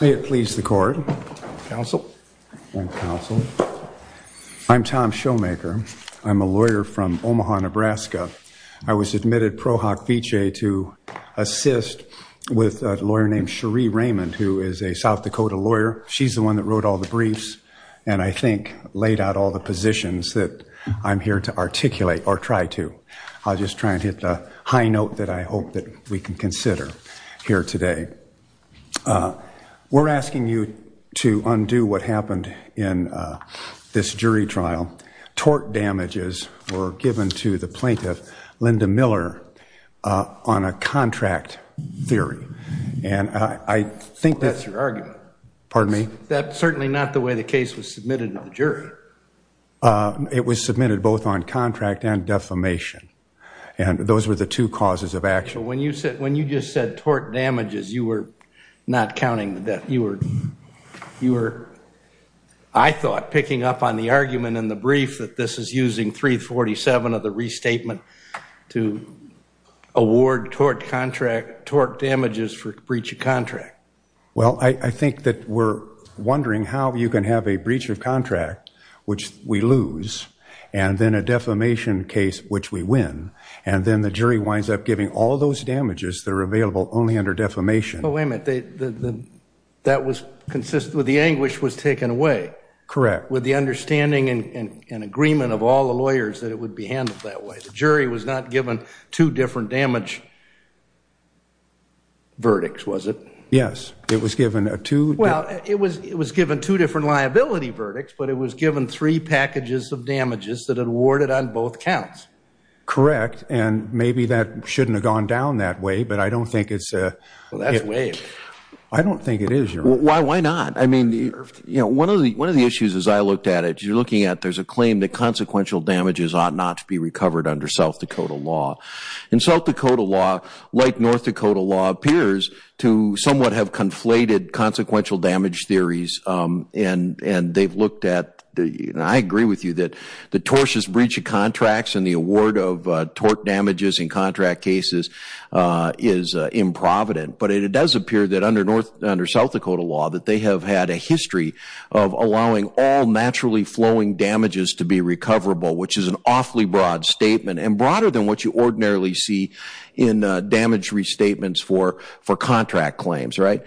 May it please the court, counsel. I'm Tom Showmaker. I'm a lawyer from Omaha, Nebraska. I was admitted pro hoc vicee to assist with a lawyer named Cherie Raymond, who is a South Dakota lawyer. She's the one that wrote all the briefs and I think laid out all the positions that I'm here to articulate or try to. I'll just try and hit the high note that I hope that we can consider here today. We're asking you to undo what happened in this jury trial. Tort damages were given to the plaintiff, Linda Miller, on a contract theory. And I think that's your argument. Pardon me? That's certainly not the way the case was submitted to the jury. It was submitted both on contract and defamation. And those were the two causes of action. When you just said tort damages, you were not counting the death. You were, I thought, picking up on the argument in the brief that this is using 347 of the restatement to award tort damages for breach of contract. Well, I think that we're wondering how you can have a breach of contract, which we lose, and then a defamation case, which we win, and then the jury winds up giving all those damages that are available only under defamation. But wait a minute. That was consistent with the anguish was taken away. Correct. With the understanding and agreement of all the lawyers that it would be handled that way. The jury was not given two different damage verdicts, was it? Yes. It was given a two... Well, it was given two different liability verdicts, but it was given three packages of damages that had awarded on both counts. Correct. And maybe that shouldn't have gone down that way, but I don't think it's... Well, that's way... I don't think it is, Your Honor. Why not? I mean, one of the issues as I looked at it, you're looking at, there's a claim that consequential damages ought not to be recovered under South Dakota law. And South Dakota law, like North Dakota law, appears to somewhat have conflated consequential damage theories. And they've looked at the... I agree with you that the tortious breach of tort damages in contract cases is improvident. But it does appear that under South Dakota law, that they have had a history of allowing all naturally flowing damages to be recoverable, which is an awfully broad statement. And broader than what you ordinarily see in damage restatements for contract claims, right?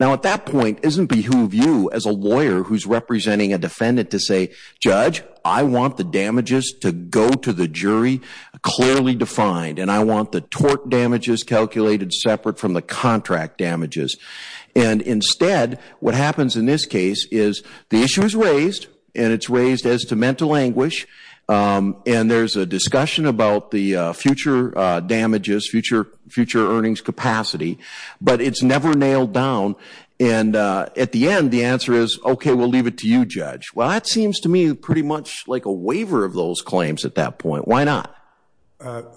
Now, at that point, isn't behoove you as a lawyer who's representing a defendant to say, clearly defined, and I want the tort damages calculated separate from the contract damages? And instead, what happens in this case is the issue is raised, and it's raised as to mental anguish. And there's a discussion about the future damages, future earnings capacity, but it's never nailed down. And at the end, the answer is, okay, we'll leave it to you, Judge. Well, that seems to me pretty much like a waiver of those claims at that point. Why not?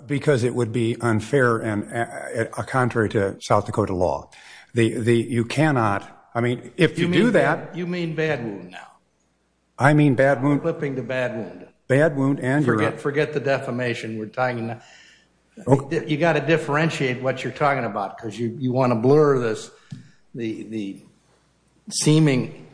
Because it would be unfair and contrary to South Dakota law. You cannot... I mean, if you do that... You mean bad wound now? I mean bad wound... Flipping to bad wound. Bad wound and... Forget the defamation. We're talking... You got to differentiate what you're talking about, because you want to blur this, the seeming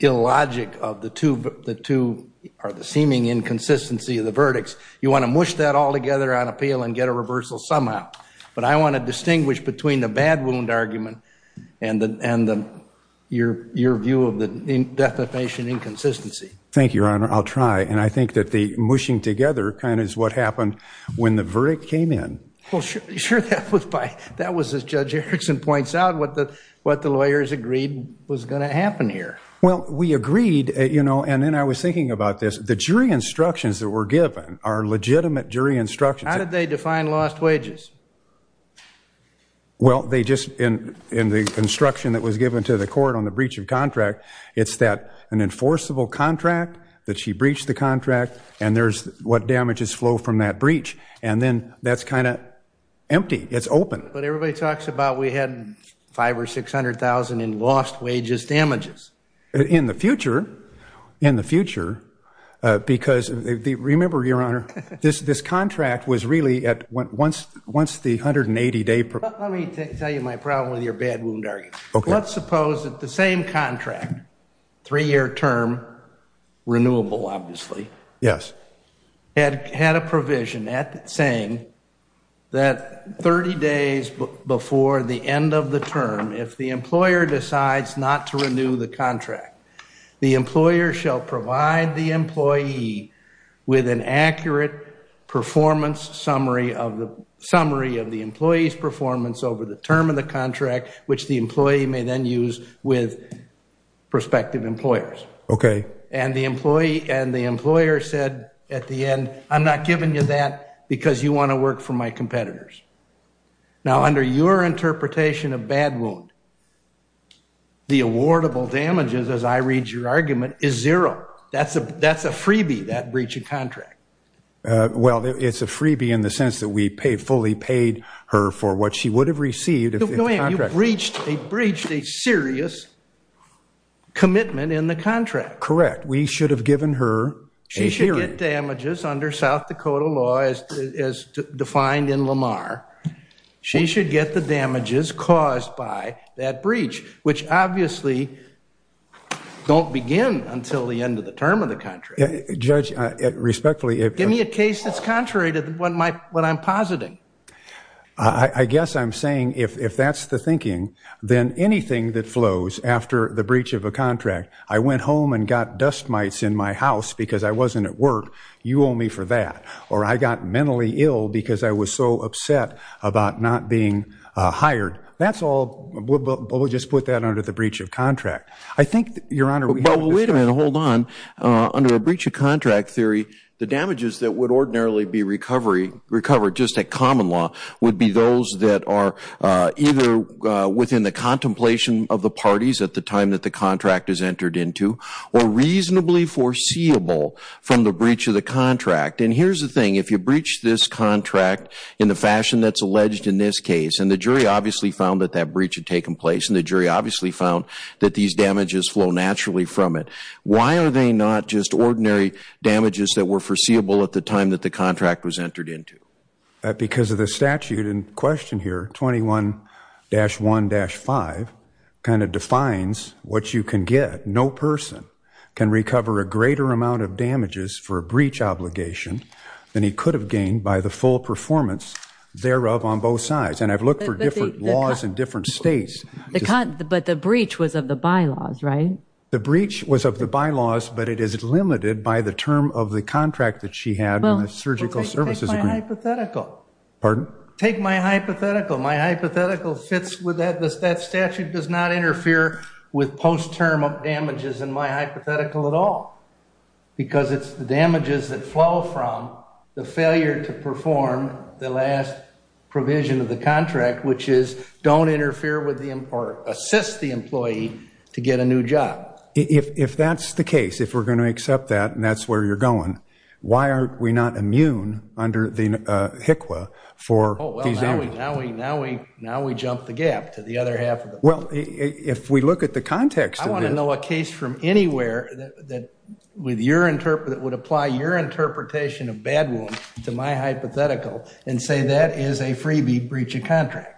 illogic of the two... Or the seeming inconsistency of the verdicts. You want to mush that all together on appeal and get a reversal somehow. But I want to distinguish between the bad wound argument and your view of the defamation inconsistency. Thank you, Your Honor. I'll try. And I think that the mushing together kind of is what happened when the verdict came in. Sure, that was by... That was, as Judge Erickson points out, what the lawyers agreed was going to happen here. Well, we agreed, and then I was thinking about this. The jury instructions that were given are legitimate jury instructions. How did they define lost wages? Well, they just... In the instruction that was given to the court on the breach of contract, it's that an enforceable contract, that she breached the contract, and there's what damages flow from that breach. And then that's kind of empty. It's open. But everybody talks about we had $500,000 or $600,000 in lost wages damages. In the future. In the future. Because remember, Your Honor, this contract was really at once the 180-day... Let me tell you my problem with your bad wound argument. Let's suppose that the same contract, three-year term, renewable obviously, had a provision saying that 30 days before the end of the term, if the employer decides not to renew the contract, the employer shall provide the employee with an accurate performance summary of the employee's performance over the term of the contract, which the employee may then use with prospective employers. Okay. And the employee said at the end, I'm not giving you that because you want to work for my competitors. Now, under your interpretation of bad wound, the awardable damages, as I read your argument, is zero. That's a freebie, that breach of contract. Well, it's a freebie in the sense that we fully paid her for what she would have received if the contract... No, you breached a serious commitment in the contract. Correct. We should have given her a hearing. She should get damages under South Dakota law as defined in Lamar. She should get the damages caused by that breach, which obviously don't begin until the end of the term of the contract. Judge, respectfully, if... Give me a case that's contrary to what I'm positing. I guess I'm saying if that's the thinking, then anything that flows after the breach of a contract, I went home and got dust mites in my house because I wasn't at work, you owe me for that. Or I got mentally ill because I was so upset about not being hired. That's all... We'll just put that under the breach of contract. I think, Your Honor... Wait a minute, hold on. Under a breach of contract theory, the damages that would ordinarily be recovered just at common law would be those that are either within the contemplation of the parties at the time that the contract is entered into, or reasonably foreseeable from the breach of the contract. And here's the thing, if you breach this contract in the fashion that's alleged in this case, and the jury obviously found that that breach had taken place, and the jury obviously found that these damages flow naturally from it, why are they not just ordinary damages that were foreseeable at the time that the contract was entered into? Because of the statute in question here, 21-1-5, kind of defines what you can get. No person can recover a greater amount of damages for a breach obligation than he could have gained by the full performance thereof on both sides. And I've looked for different laws in different states. But the breach was of the bylaws, right? The breach was of the bylaws, but it is limited by the term of the contract that she had in the Surgical Services Agreement. Take my hypothetical. Pardon? Take my hypothetical. My hypothetical fits with that. That statute does not interfere with post-term damages in my hypothetical at all, because it's the damages that flow from the failure to perform the last provision of the contract, which is don't interfere with the, or assist the employee to get a new job. If that's the case, if we're going to accept that, and that's where you're going, why aren't we not immune under the HICWA for these damages? Oh, well, now we jump the gap to the other half of the... Well, if we look at the context of this... ...anywhere that would apply your interpretation of bad wound to my hypothetical and say that is a freebie breach of contract.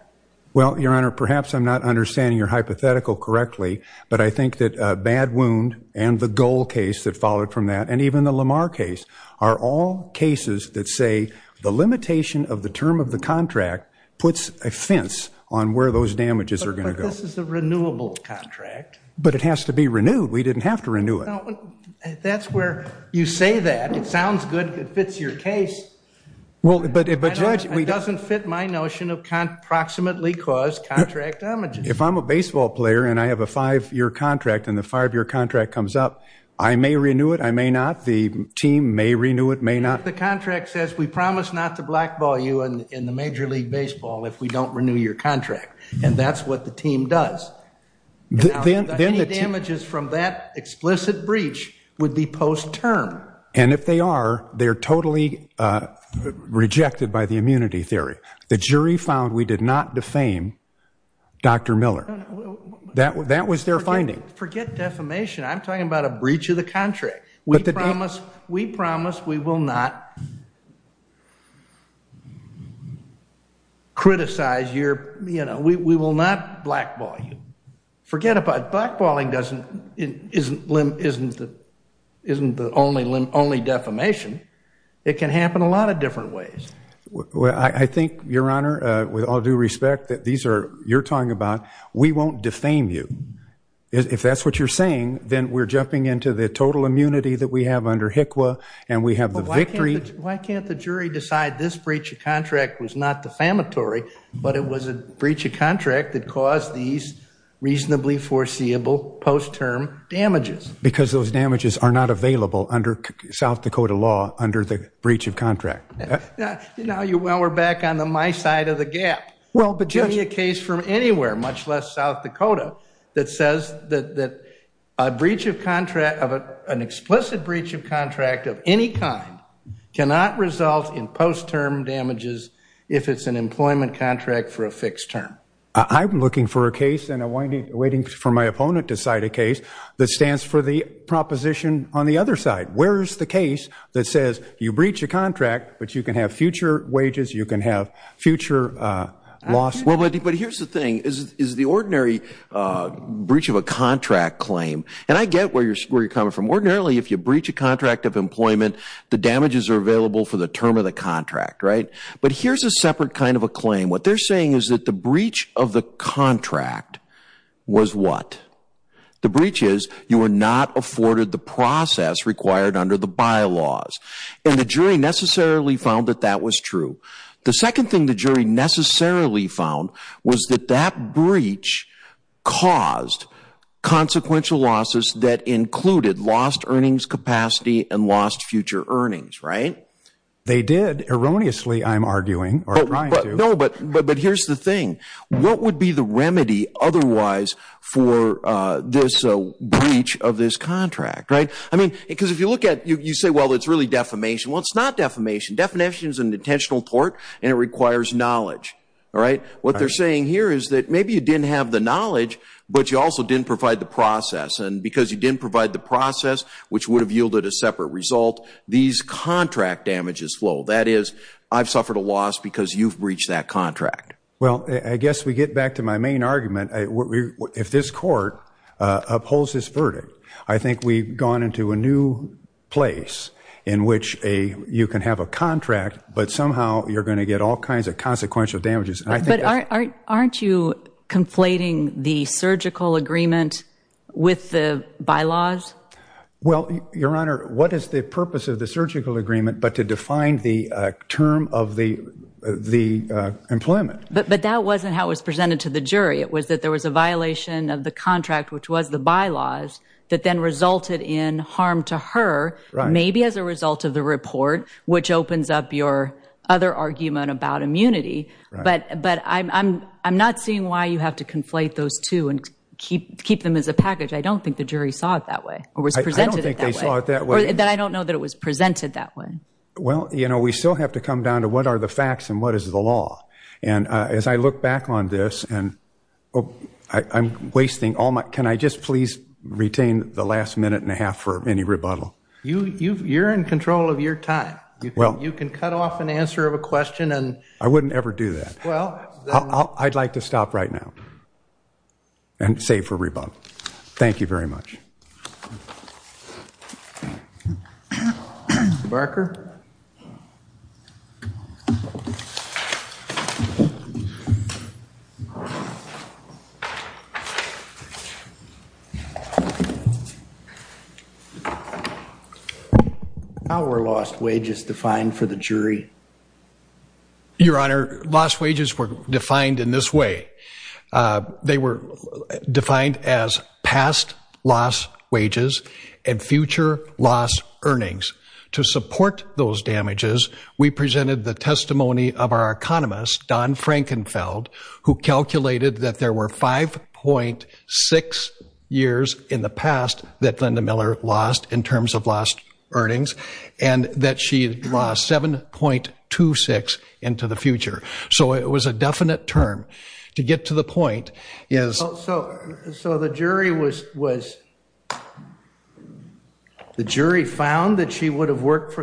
Well, Your Honor, perhaps I'm not understanding your hypothetical correctly, but I think that bad wound and the Goal case that followed from that, and even the Lamar case, are all cases that say the limitation of the term of the contract puts a fence on where those damages are going to go. But this is a renewable contract. But it has to be renewed. We didn't have to renew it. That's where you say that. It sounds good. It fits your case. Well, but, Judge... It doesn't fit my notion of approximately caused contract damages. If I'm a baseball player, and I have a five-year contract, and the five-year contract comes up, I may renew it, I may not. The team may renew it, may not. The contract says we promise not to blackball you in the Major League Baseball if we don't renew your contract, and that's what the team does. Now, any damages from that explicit breach would be post-term. And if they are, they're totally rejected by the immunity theory. The jury found we did not defame Dr. Miller. That was their finding. Forget defamation. I'm talking about a breach of the contract. We promise we will not criticize your, you know, we will not blackball you. Forget about it. Blackballing isn't the only defamation. It can happen a lot of different ways. Well, I think, Your Honor, with all due respect that these are, you're talking about, we won't defame you. If that's what you're saying, then we're jumping into the total immunity that we have under HCQA, and we have the victory. Why can't the jury decide this breach of contract was not defamatory, but it was a breach of reasonably foreseeable post-term damages? Because those damages are not available under South Dakota law under the breach of contract. Now, we're back on the my side of the gap. Well, but give me a case from anywhere, much less South Dakota, that says that an explicit breach of contract of any kind cannot result in post-term damages if it's an employment contract for a fixed term. I'm looking for a case, and I'm waiting for my opponent to cite a case that stands for the proposition on the other side. Where is the case that says you breach a contract, but you can have future wages, you can have future loss? Well, but here's the thing, is the ordinary breach of a contract claim, and I get where you're coming from. Ordinarily, if you breach a contract of employment, the damages are available for the term of the contract, right? But here's a separate kind of a claim. What they're saying is that the breach of the contract was what? The breach is you were not afforded the process required under the bylaws. And the jury necessarily found that that was true. The second thing the jury necessarily found was that that breach caused consequential losses that included lost earnings capacity and lost future earnings, right? They did. Erroneously, I'm arguing, or trying to. But here's the thing. What would be the remedy otherwise for this breach of this contract, right? I mean, because if you look at, you say, well, it's really defamation. Well, it's not defamation. Defamation is an intentional tort, and it requires knowledge, all right? What they're saying here is that maybe you didn't have the knowledge, but you also didn't provide the process. And because you didn't provide the process, which would have yielded a separate result, these contract damages flow. That is, I've suffered a loss because you've breached that contract. Well, I guess we get back to my main argument. If this court upholds this verdict, I think we've gone into a new place in which you can have a contract, but somehow you're going to get all kinds of consequential damages. But aren't you conflating the surgical agreement with the bylaws? Well, Your Honor, what is the purpose of the surgical agreement but to define the term of the employment? But that wasn't how it was presented to the jury. It was that there was a violation of the contract, which was the bylaws, that then resulted in harm to her, maybe as a result of the report, which opens up your other argument about immunity. But I'm not seeing why you have to conflate those two and keep them as a package. I don't think the jury saw it that way. I don't think they saw it that way. Or that I don't know that it was presented that way. Well, we still have to come down to what are the facts and what is the law. And as I look back on this, I'm wasting all my time. Can I just please retain the last minute and a half for any rebuttal? You're in control of your time. You can cut off an answer of a question. I wouldn't ever do that. I'd like to stop right now and save for rebuttal. Thank you very much. Mr. Barker? How were lost wages defined for the jury? Your Honor, lost wages were defined in this way. They were defined as past loss wages and future loss earnings. To support those damages, we presented the testimony of our economist, Don Frankenfeld, who calculated that there were 5.6 years in the past that Linda Miller lost in terms of lost earnings and that she lost 7.26 into the future. So it was a definite term. To get to the point is... So the jury was... The jury found that she would have worked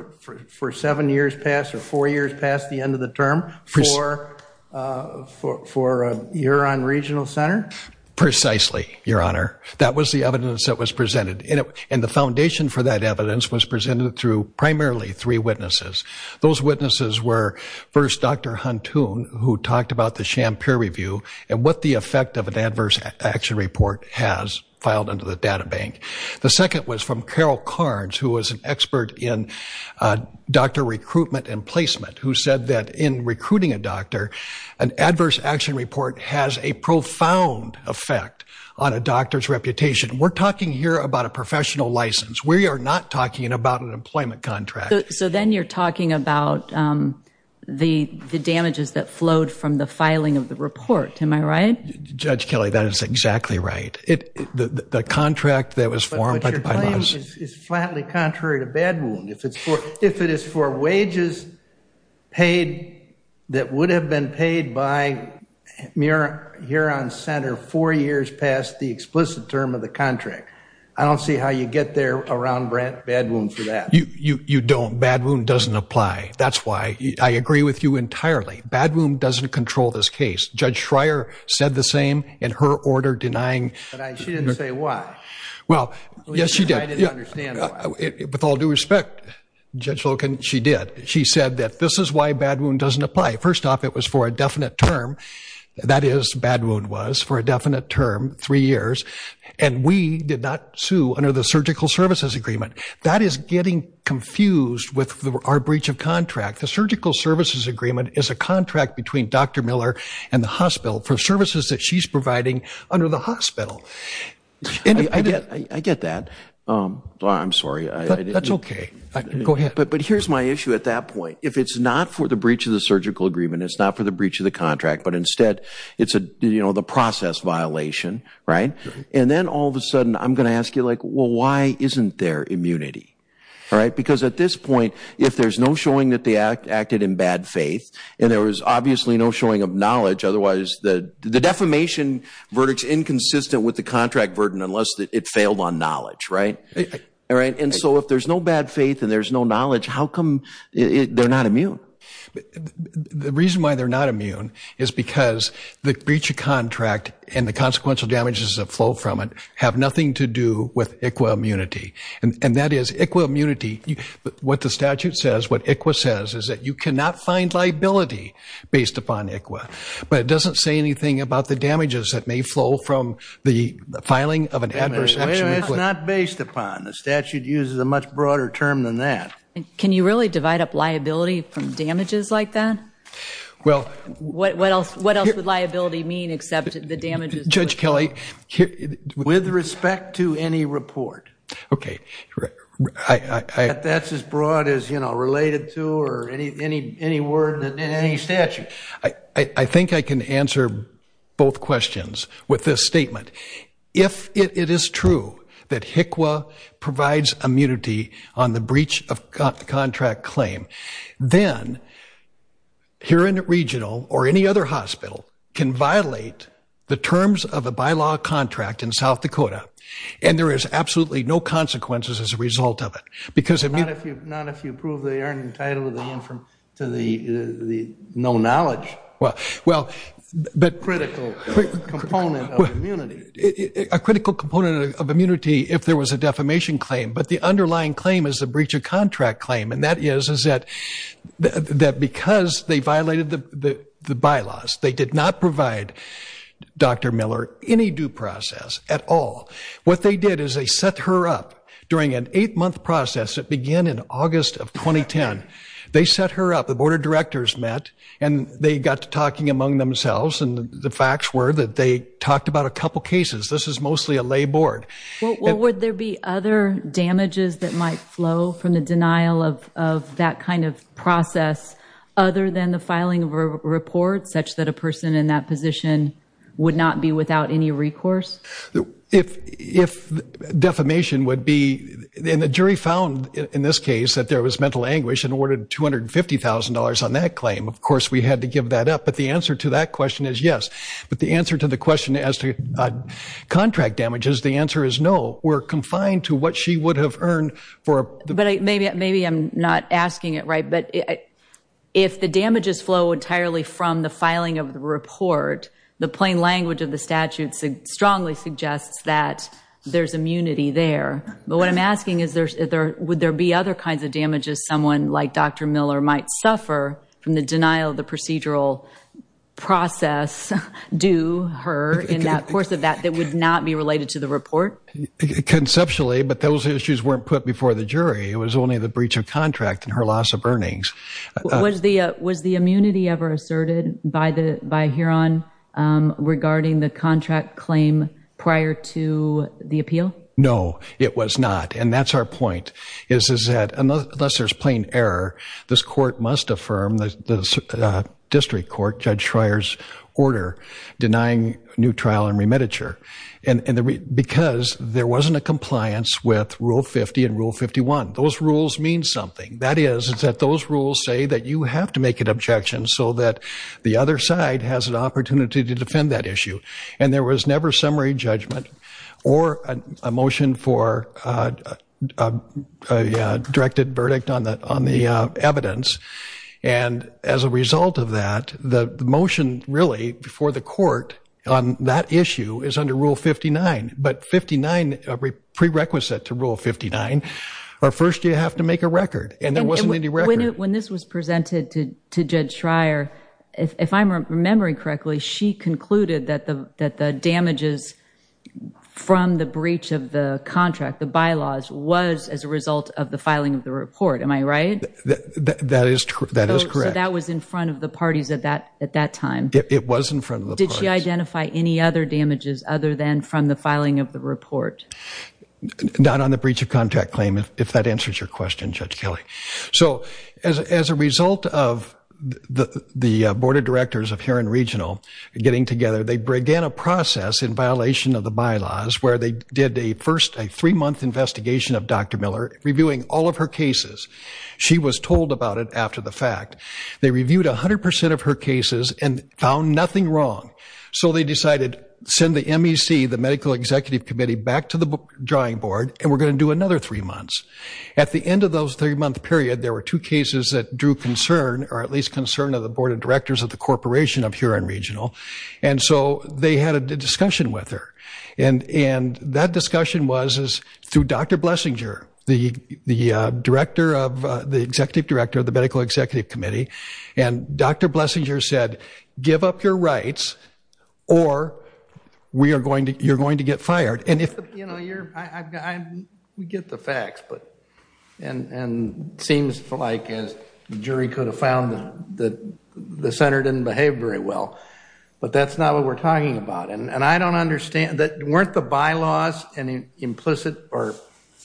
for seven years past or four years past the end of the term for a year on regional center? Precisely, Your Honor. That was the evidence that was presented. And the foundation for that evidence was presented through primarily three witnesses. Those witnesses were, first, Dr. Huntoon, who talked about the Shampoo Review and what the effect of an adverse action report has filed into the data bank. The second was from Carol Carnes, who was an expert in doctor recruitment and placement, who said that in recruiting a doctor, an adverse action report has a profound effect on a doctor's reputation. We're talking here about a professional license. We are not talking about an employment contract. So then you're talking about the damages that flowed from the filing of the report. Am I right? Judge Kelley, that is exactly right. The contract that was formed by... But your claim is flatly contrary to Badwound. If it is for wages paid that would have been paid by Huron Center four years past the explicit term of the contract. I don't see how you get there around Badwound for that. You don't. Badwound doesn't apply. That's why I agree with you entirely. Badwound doesn't control this case. Judge Schreier said the same in her order denying... But she didn't say why. Well, yes, she did. I didn't understand why. With all due respect, Judge Loken, she did. She said that this is why Badwound doesn't apply. First off, it was for a definite term. That is, Badwound was for a definite term, three years. And we did not sue under the Surgical Services Agreement. That is getting confused with our breach of contract. The Surgical Services Agreement is a contract between Dr. Miller and the hospital for services that she's providing under the hospital. I get that. I'm sorry. That's okay. Go ahead. But here's my issue at that point. If it's not for the breach of the surgical agreement, it's not for the breach of the contract, but instead it's the process violation, right? And then all of a sudden I'm going to ask you like, why isn't there immunity? Because at this point, if there's no showing that they acted in bad faith, and there was obviously no showing of knowledge, otherwise the defamation verdict's inconsistent with the contract burden unless it failed on knowledge, right? And so if there's no bad faith and there's no knowledge, how come they're not immune? The reason why they're not immune is because the breach of contract and the consequential damages that flow from it have nothing to do with ICWA immunity. And that is, ICWA immunity, what the statute says, what ICWA says is that you cannot find liability based upon ICWA. But it doesn't say anything about the damages that may flow from the filing of an adverse action. It's not based upon. The statute uses a much broader term than that. Can you really divide up liability from damages like that? Well, what else would liability mean except the damages? Judge Kelly. With respect to any report. Okay. That's as broad as, you know, related to or any word in any statute. I think I can answer both questions with this statement. If it is true that ICWA provides immunity on the breach of contract claim, then here in the regional or any other hospital can violate the terms of a bylaw contract in South Dakota. And there is absolutely no consequences as a result of it. Because if you... Not if you prove they aren't entitled to the no knowledge. Well, but... Critical component of immunity. A critical component of immunity if there was a defamation claim. But the underlying claim is the breach of contract claim. And that is that because they violated the bylaws, they did not provide Dr. Miller any due process at all. What they did is they set her up during an eight month process that began in August of 2010. They set her up. The board of directors met and they got to talking among themselves. And the facts were that they talked about a couple cases. This is mostly a lay board. Well, would there be other damages that might flow from the denial of that kind of process other than the filing of a report such that a person in that position would not be without any recourse? If defamation would be... And the jury found in this case that there was mental anguish and ordered $250,000 on that claim. Of course, we had to give that up. But the answer to that question is yes. But the answer to the question as to contract damages, the answer is no. We're confined to what she would have earned for the... But maybe I'm not asking it right. But if the damages flow entirely from the filing of the report, the plain language of the statute strongly suggests that there's immunity there. But what I'm asking is, would there be other kinds of damages someone like Dr. Miller might suffer from the denial of the procedural process due her in that course of that that would not be related to the report? Conceptually, but those issues weren't put before the jury. It was only the breach of contract and her loss of earnings. Was the immunity ever asserted by Huron regarding the contract claim prior to the appeal? No, it was not. And that's our point, is that unless there's plain error, this court must affirm the district court, Judge Schreier's order, denying new trial and remititure. Because there wasn't a compliance with Rule 50 and Rule 51. Those rules mean something. That is, it's that those rules say that you have to make an objection so that the other side has an opportunity to defend that issue. And there was never summary judgment or a motion for a directed verdict on the evidence. And as a result of that, the motion really before the court on that issue is under Rule 59. But 59, a prerequisite to Rule 59, first you have to make a record. And there wasn't any record. When this was presented to Judge Schreier, if I'm remembering correctly, she concluded that the damages from the breach of the contract, the bylaws, was as a result of the filing of the report. Am I right? That is correct. So that was in front of the parties at that time? It was in front of the parties. Did she identify any other damages other than from the filing of the report? Not on the breach of contract claim, if that answers your question, Judge Kelly. So as a result of the Board of Directors of Huron Regional getting together, they began a process in violation of the bylaws where they did a first, a three-month investigation of Dr. Miller, reviewing all of her cases. She was told about it after the fact. They reviewed 100% of her cases and found nothing wrong. So they decided, send the MEC, the Medical Executive Committee, back to the drawing board and we're going to do another three months. At the end of those three-month period, there were two cases that drew concern, or at least concern of the Board of Directors of the Corporation of Huron Regional. And so they had a discussion with her. And that discussion was through Dr. Blessinger, the Executive Director of the Medical Executive Committee. And Dr. Blessinger said, give up your rights or you're going to get fired. You know, we get the facts, and it seems like, as the jury could have found, the center didn't behave very well. But that's not what we're talking about. And I don't understand, weren't the bylaws an implicit or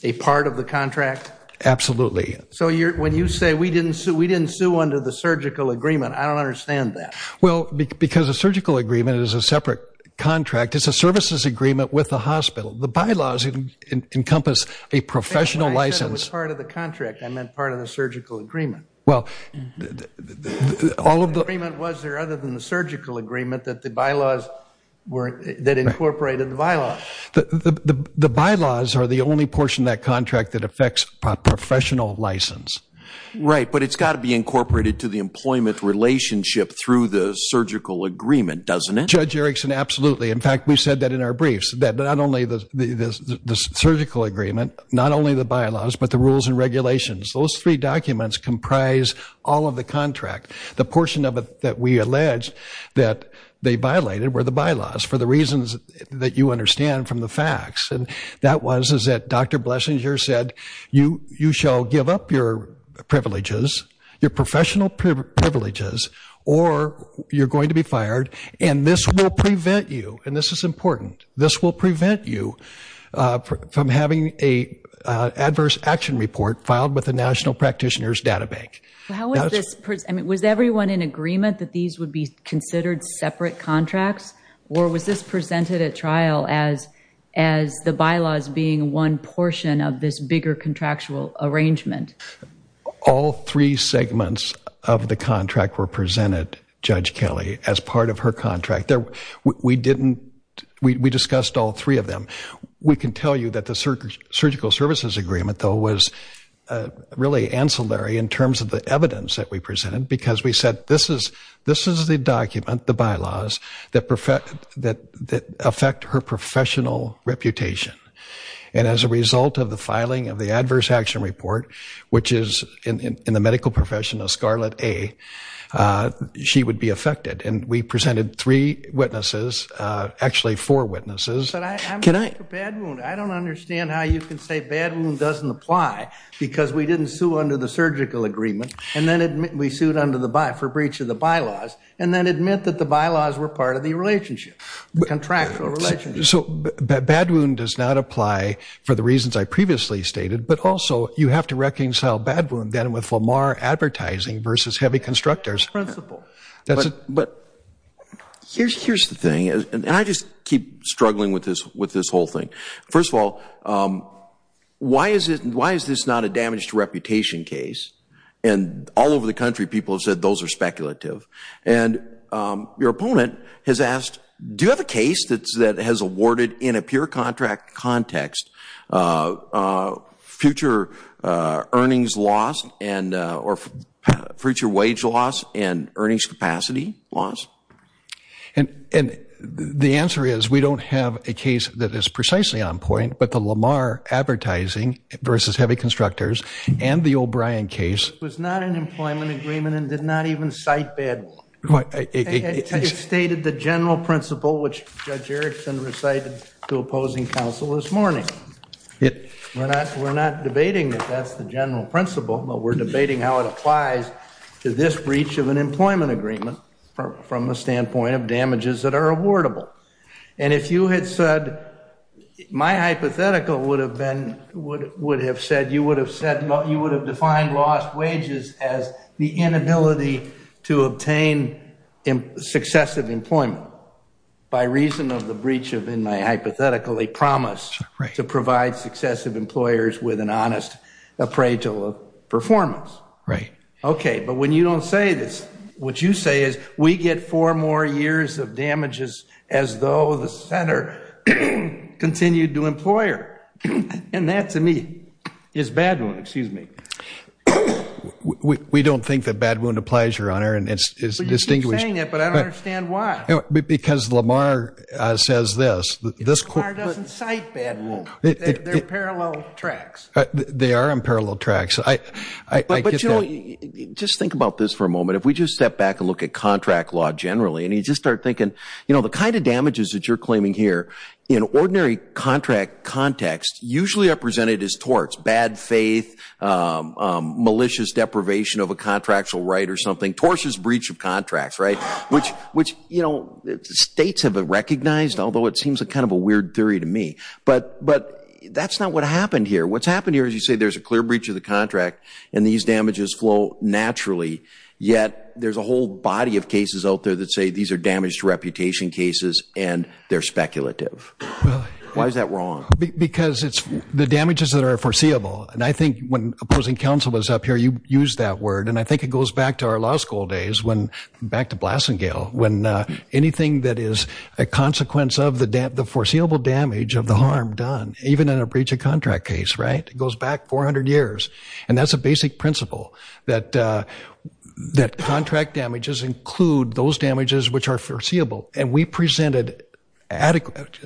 a part of the contract? Absolutely. So when you say we didn't sue under the surgical agreement, I don't understand that. Well, because a surgical agreement is a separate contract. It's a services agreement with the hospital. The bylaws encompass a professional license. When I said it was part of the contract, I meant part of the surgical agreement. Well, all of the... The agreement was there other than the surgical agreement that the bylaws were, that incorporated the bylaws. The bylaws are the only portion of that contract that affects professional license. Right, but it's got to be incorporated to the employment relationship through the surgical agreement, doesn't it? Judge Erickson, absolutely. In fact, we've said that in our briefs, that not only the surgical agreement, not only the bylaws, but the rules and regulations. Those three documents comprise all of the contract. The portion of it that we alleged that they violated were the bylaws for the reasons that you understand from the facts. And that was, is that Dr. Blessinger said, you shall give up your privileges, your professional privileges, or you're going to be fired. And this will prevent you, and this is important, this will prevent you from having a adverse action report filed with the National Practitioners Data Bank. Was everyone in agreement that these would be considered separate contracts? Or was this presented at trial as the bylaws being one portion of this bigger contractual arrangement? All three segments of the contract were presented, Judge Kelly, as part of her contract. We didn't, we discussed all three of them. We can tell you that the surgical services agreement, though, was really ancillary in terms of the evidence that we presented because we said this is the document, the bylaws, that affect her professional reputation. And as a result of the filing of the adverse action report, which is in the medical profession of Scarlet A, she would be affected. We presented three witnesses, actually four witnesses. But I'm for bad wound. I don't understand how you can say bad wound doesn't apply because we didn't sue under the surgical agreement and then we sued under the by, for breach of the bylaws and then admit that the bylaws were part of the relationship, contractual relationship. So bad wound does not apply for the reasons I previously stated, but also you have to reconcile bad wound then with Lamar advertising versus heavy constructors. Principle. But here's the thing, and I just keep struggling with this whole thing. First of all, why is this not a damaged reputation case? And all over the country, people have said those are speculative. And your opponent has asked, do you have a case that has awarded in a pure contract context future earnings loss and or future wage loss and earnings capacity loss? And the answer is we don't have a case that is precisely on point, but the Lamar advertising versus heavy constructors and the O'Brien case. It was not an employment agreement and did not even cite bad wound. It stated the general principle, which Judge Erickson recited to opposing counsel this morning. We're not debating that that's the general principle, but we're debating how it applies to this breach of an employment agreement from the standpoint of damages that are awardable. And if you had said, my hypothetical would have been, would have said, you would have said, you would have defined lost wages as the inability to obtain successive employment by reason of the breach of in my hypothetically promise to provide successive employers with an honest appraisal of performance. Right. Okay. But when you don't say this, what you say is we get four more years of damages as though the center continued to employer. And that to me is bad one. Excuse me. We don't think that bad wound applies, Your Honor. And it's distinguished. But I don't understand why. Because Lamar says this, this court doesn't cite bad. They're parallel tracks. They are unparalleled tracks. But just think about this for a moment. If we just step back and look at contract law generally, and you just start thinking, you know, the kind of damages that you're claiming here in ordinary contract context, usually are presented as torts, bad faith, malicious deprivation of a contractual right or something, torts is breach of contracts, right? Which, you know, states have recognized, although it seems a kind of a weird theory to me. But that's not what happened here. What's happened here is you say, there's a clear breach of the contract and these damages flow naturally. Yet there's a whole body of cases out there that say these are damaged reputation cases and they're speculative. Why is that wrong? Because it's the damages that are foreseeable. And I think when opposing counsel was up here, you used that word. And I think it goes back to our law school days when back to Blasingale, when anything that is a consequence of the foreseeable damage of the harm done, even in a breach of contract case, right? And that's a basic principle that contract damages include those damages which are foreseeable. And we presented adequate,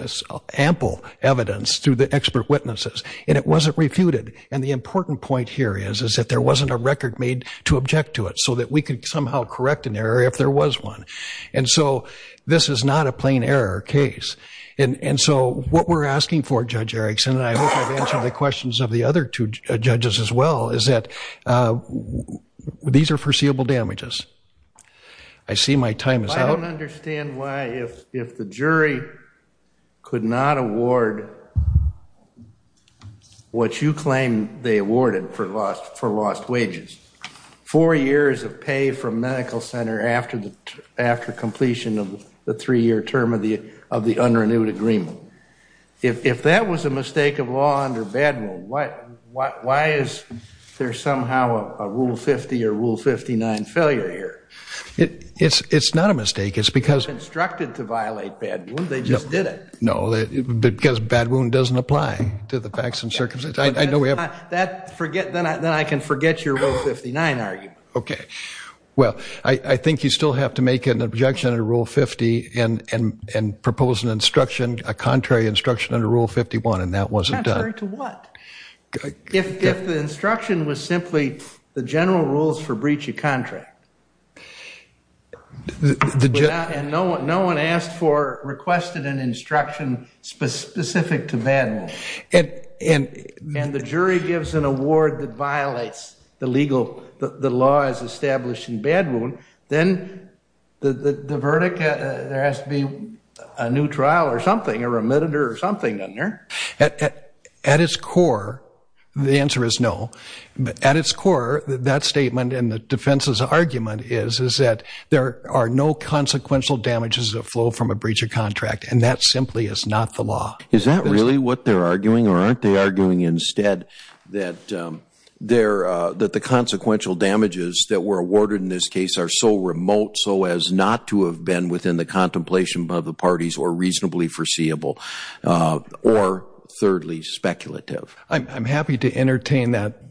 ample evidence through the expert witnesses and it wasn't refuted. And the important point here is, is that there wasn't a record made to object to it so that we could somehow correct an error if there was one. And so this is not a plain error case. And so what we're asking for, Judge Erickson, I hope I've answered the questions of the other two judges as well, is that these are foreseeable damages. I see my time is out. I don't understand why if the jury could not award what you claim they awarded for lost wages, four years of pay from medical center after completion of the three-year term of the unrenewed agreement. If that was a mistake of law under bad will, why is there somehow a rule 50 or rule 59 failure here? It's not a mistake. It's because- Instructed to violate bad will, they just did it. No, because bad will doesn't apply to the facts and circumstances. I know we have- That forget, then I can forget your rule 59 argument. Okay. Well, I think you still have to make an objection under rule 50 and propose an instruction, a contrary instruction under rule 51 and that wasn't done. Contrary to what? If the instruction was simply the general rules for breach of contract and no one asked for, requested an instruction specific to bad will and the jury gives an award that violates the legal, the law as established in bad will, then the verdict, there has to be a new trial or something or a meditor or something in there. At its core, the answer is no. At its core, that statement and the defense's argument is that there are no consequential damages that flow from a breach of contract and that simply is not the law. Is that really what they're arguing or aren't they arguing instead that the consequential damages that were awarded in this case are so remote, so as not to have been within the contemplation of the parties or reasonably foreseeable or thirdly, speculative? I'm happy to entertain that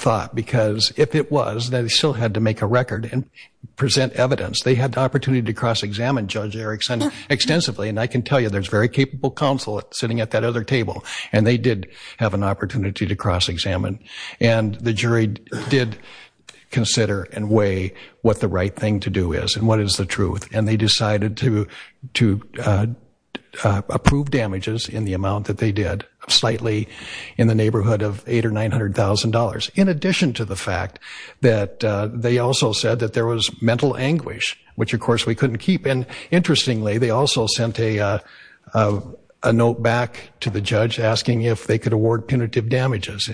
thought because if it was, they still had to make a record and present evidence. They had the opportunity to cross-examine Judge Erickson extensively and I can tell you, there's very capable counsel sitting at that other table and they did have an opportunity to cross-examine and the jury did consider and weigh what the right thing to do is and what is the truth and they decided to approve damages in the amount that they did, slightly in the neighborhood of $800,000 or $900,000 in addition to the fact that they also said that there was mental anguish which of course we couldn't keep and interestingly, they also sent a note back to the judge asking if they could award punitive damages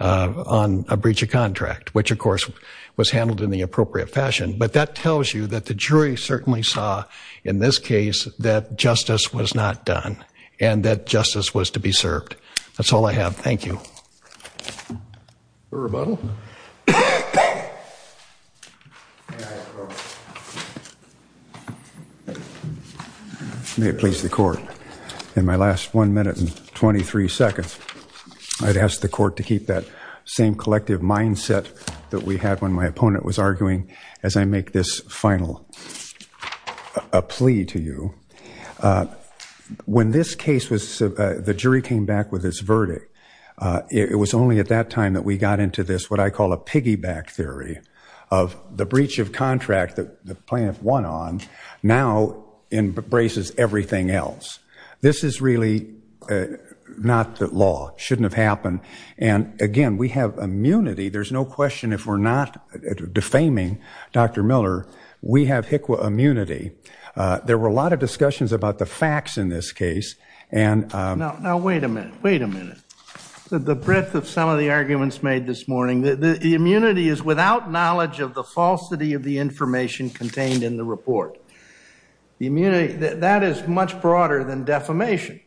on a breach of contract which of course was handled in the appropriate fashion but that tells you that the jury certainly saw in this case that justice was not done and that justice was to be served. That's all I have. Thank you. May it please the court, in my last one minute and 23 seconds, I'd ask the court to keep that same collective mindset that we had when my opponent was arguing as I make this final plea to you. When this case was, the jury came back with this verdict, it was only at that time that we got into this what I call a piggyback theory of the breach of contract that the plaintiff won on now embraces everything else. This is really not the law, shouldn't have happened and again, we have immunity. There's no question if we're not defaming Dr. Miller, we have HICWA immunity. There were a lot of discussions about the facts in this case and now wait a minute, wait a minute. The breadth of some of the arguments made this morning, the immunity is without knowledge of the falsity of the information contained in the report. The immunity, that is much broader than defamation.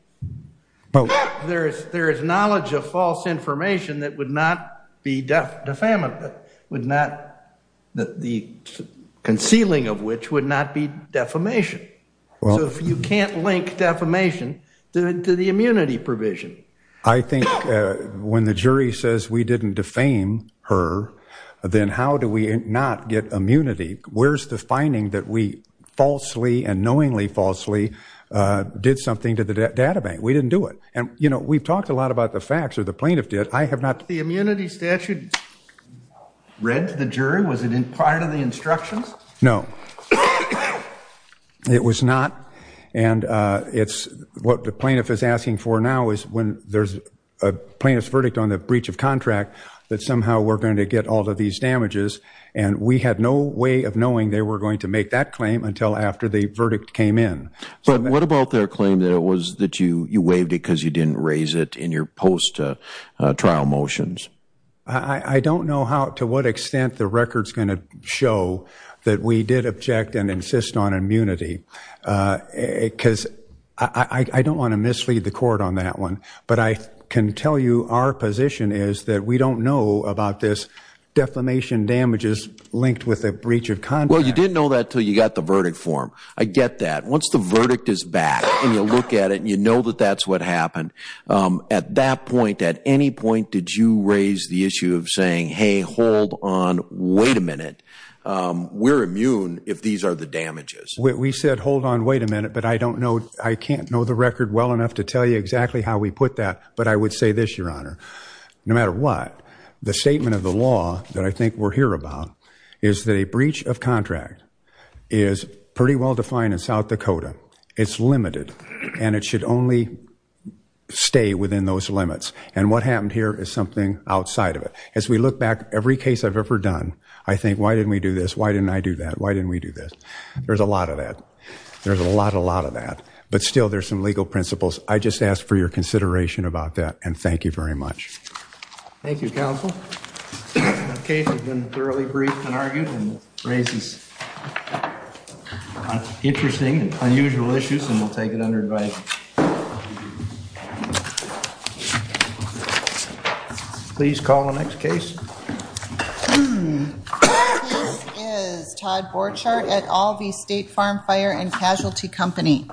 There is knowledge of false information that would not be defamatory. Would not, the concealing of which would not be defamation. So if you can't link defamation to the immunity provision. I think when the jury says we didn't defame her, then how do we not get immunity? Where's the finding that we falsely and knowingly falsely did something to the data bank? We didn't do it. And you know, we've talked a lot about the facts or the plaintiff did, I have not. The immunity statute read to the jury. Was it in prior to the instructions? No, it was not. And it's what the plaintiff is asking for now is when there's a plaintiff's verdict on the breach of contract, that somehow we're going to get all of these damages. And we had no way of knowing they were going to make that claim until after the verdict came in. But what about their claim that it was that you you waived because you didn't raise it in your post trial motions? I don't know how to what extent the record's going to show that we did object and insist on immunity because I don't want to mislead the court on that one. But I can tell you our position is that we don't know about this defamation damages linked with a breach of contract. Well, you didn't know that till you got the verdict form. I get that once the verdict is back and you look at it and you know that that's what happened. At that point, at any point, did you raise the issue of saying, hey, hold on, wait a minute. We're immune if these are the damages. We said, hold on, wait a minute. But I don't know. I can't know the record well enough to tell you exactly how we put that. But I would say this, Your Honor, no matter what, the statement of the law that I think we're here about is that a breach of contract is pretty well defined in South Dakota. It's limited and it should only stay within those limits. And what happened here is something outside of it. As we look back, every case I've ever done, I think, why didn't we do this? Why didn't I do that? Why didn't we do this? There's a lot of that. There's a lot, a lot of that. But still, there's some legal principles. I just ask for your consideration about that. And thank you very much. Thank you, counsel. The case has been thoroughly briefed and argued and raises interesting and unusual issues. And we'll take it under advice. Thank you. Please call the next case. This is Todd Borchardt at Alvey State Farm Fire and Casualty Company.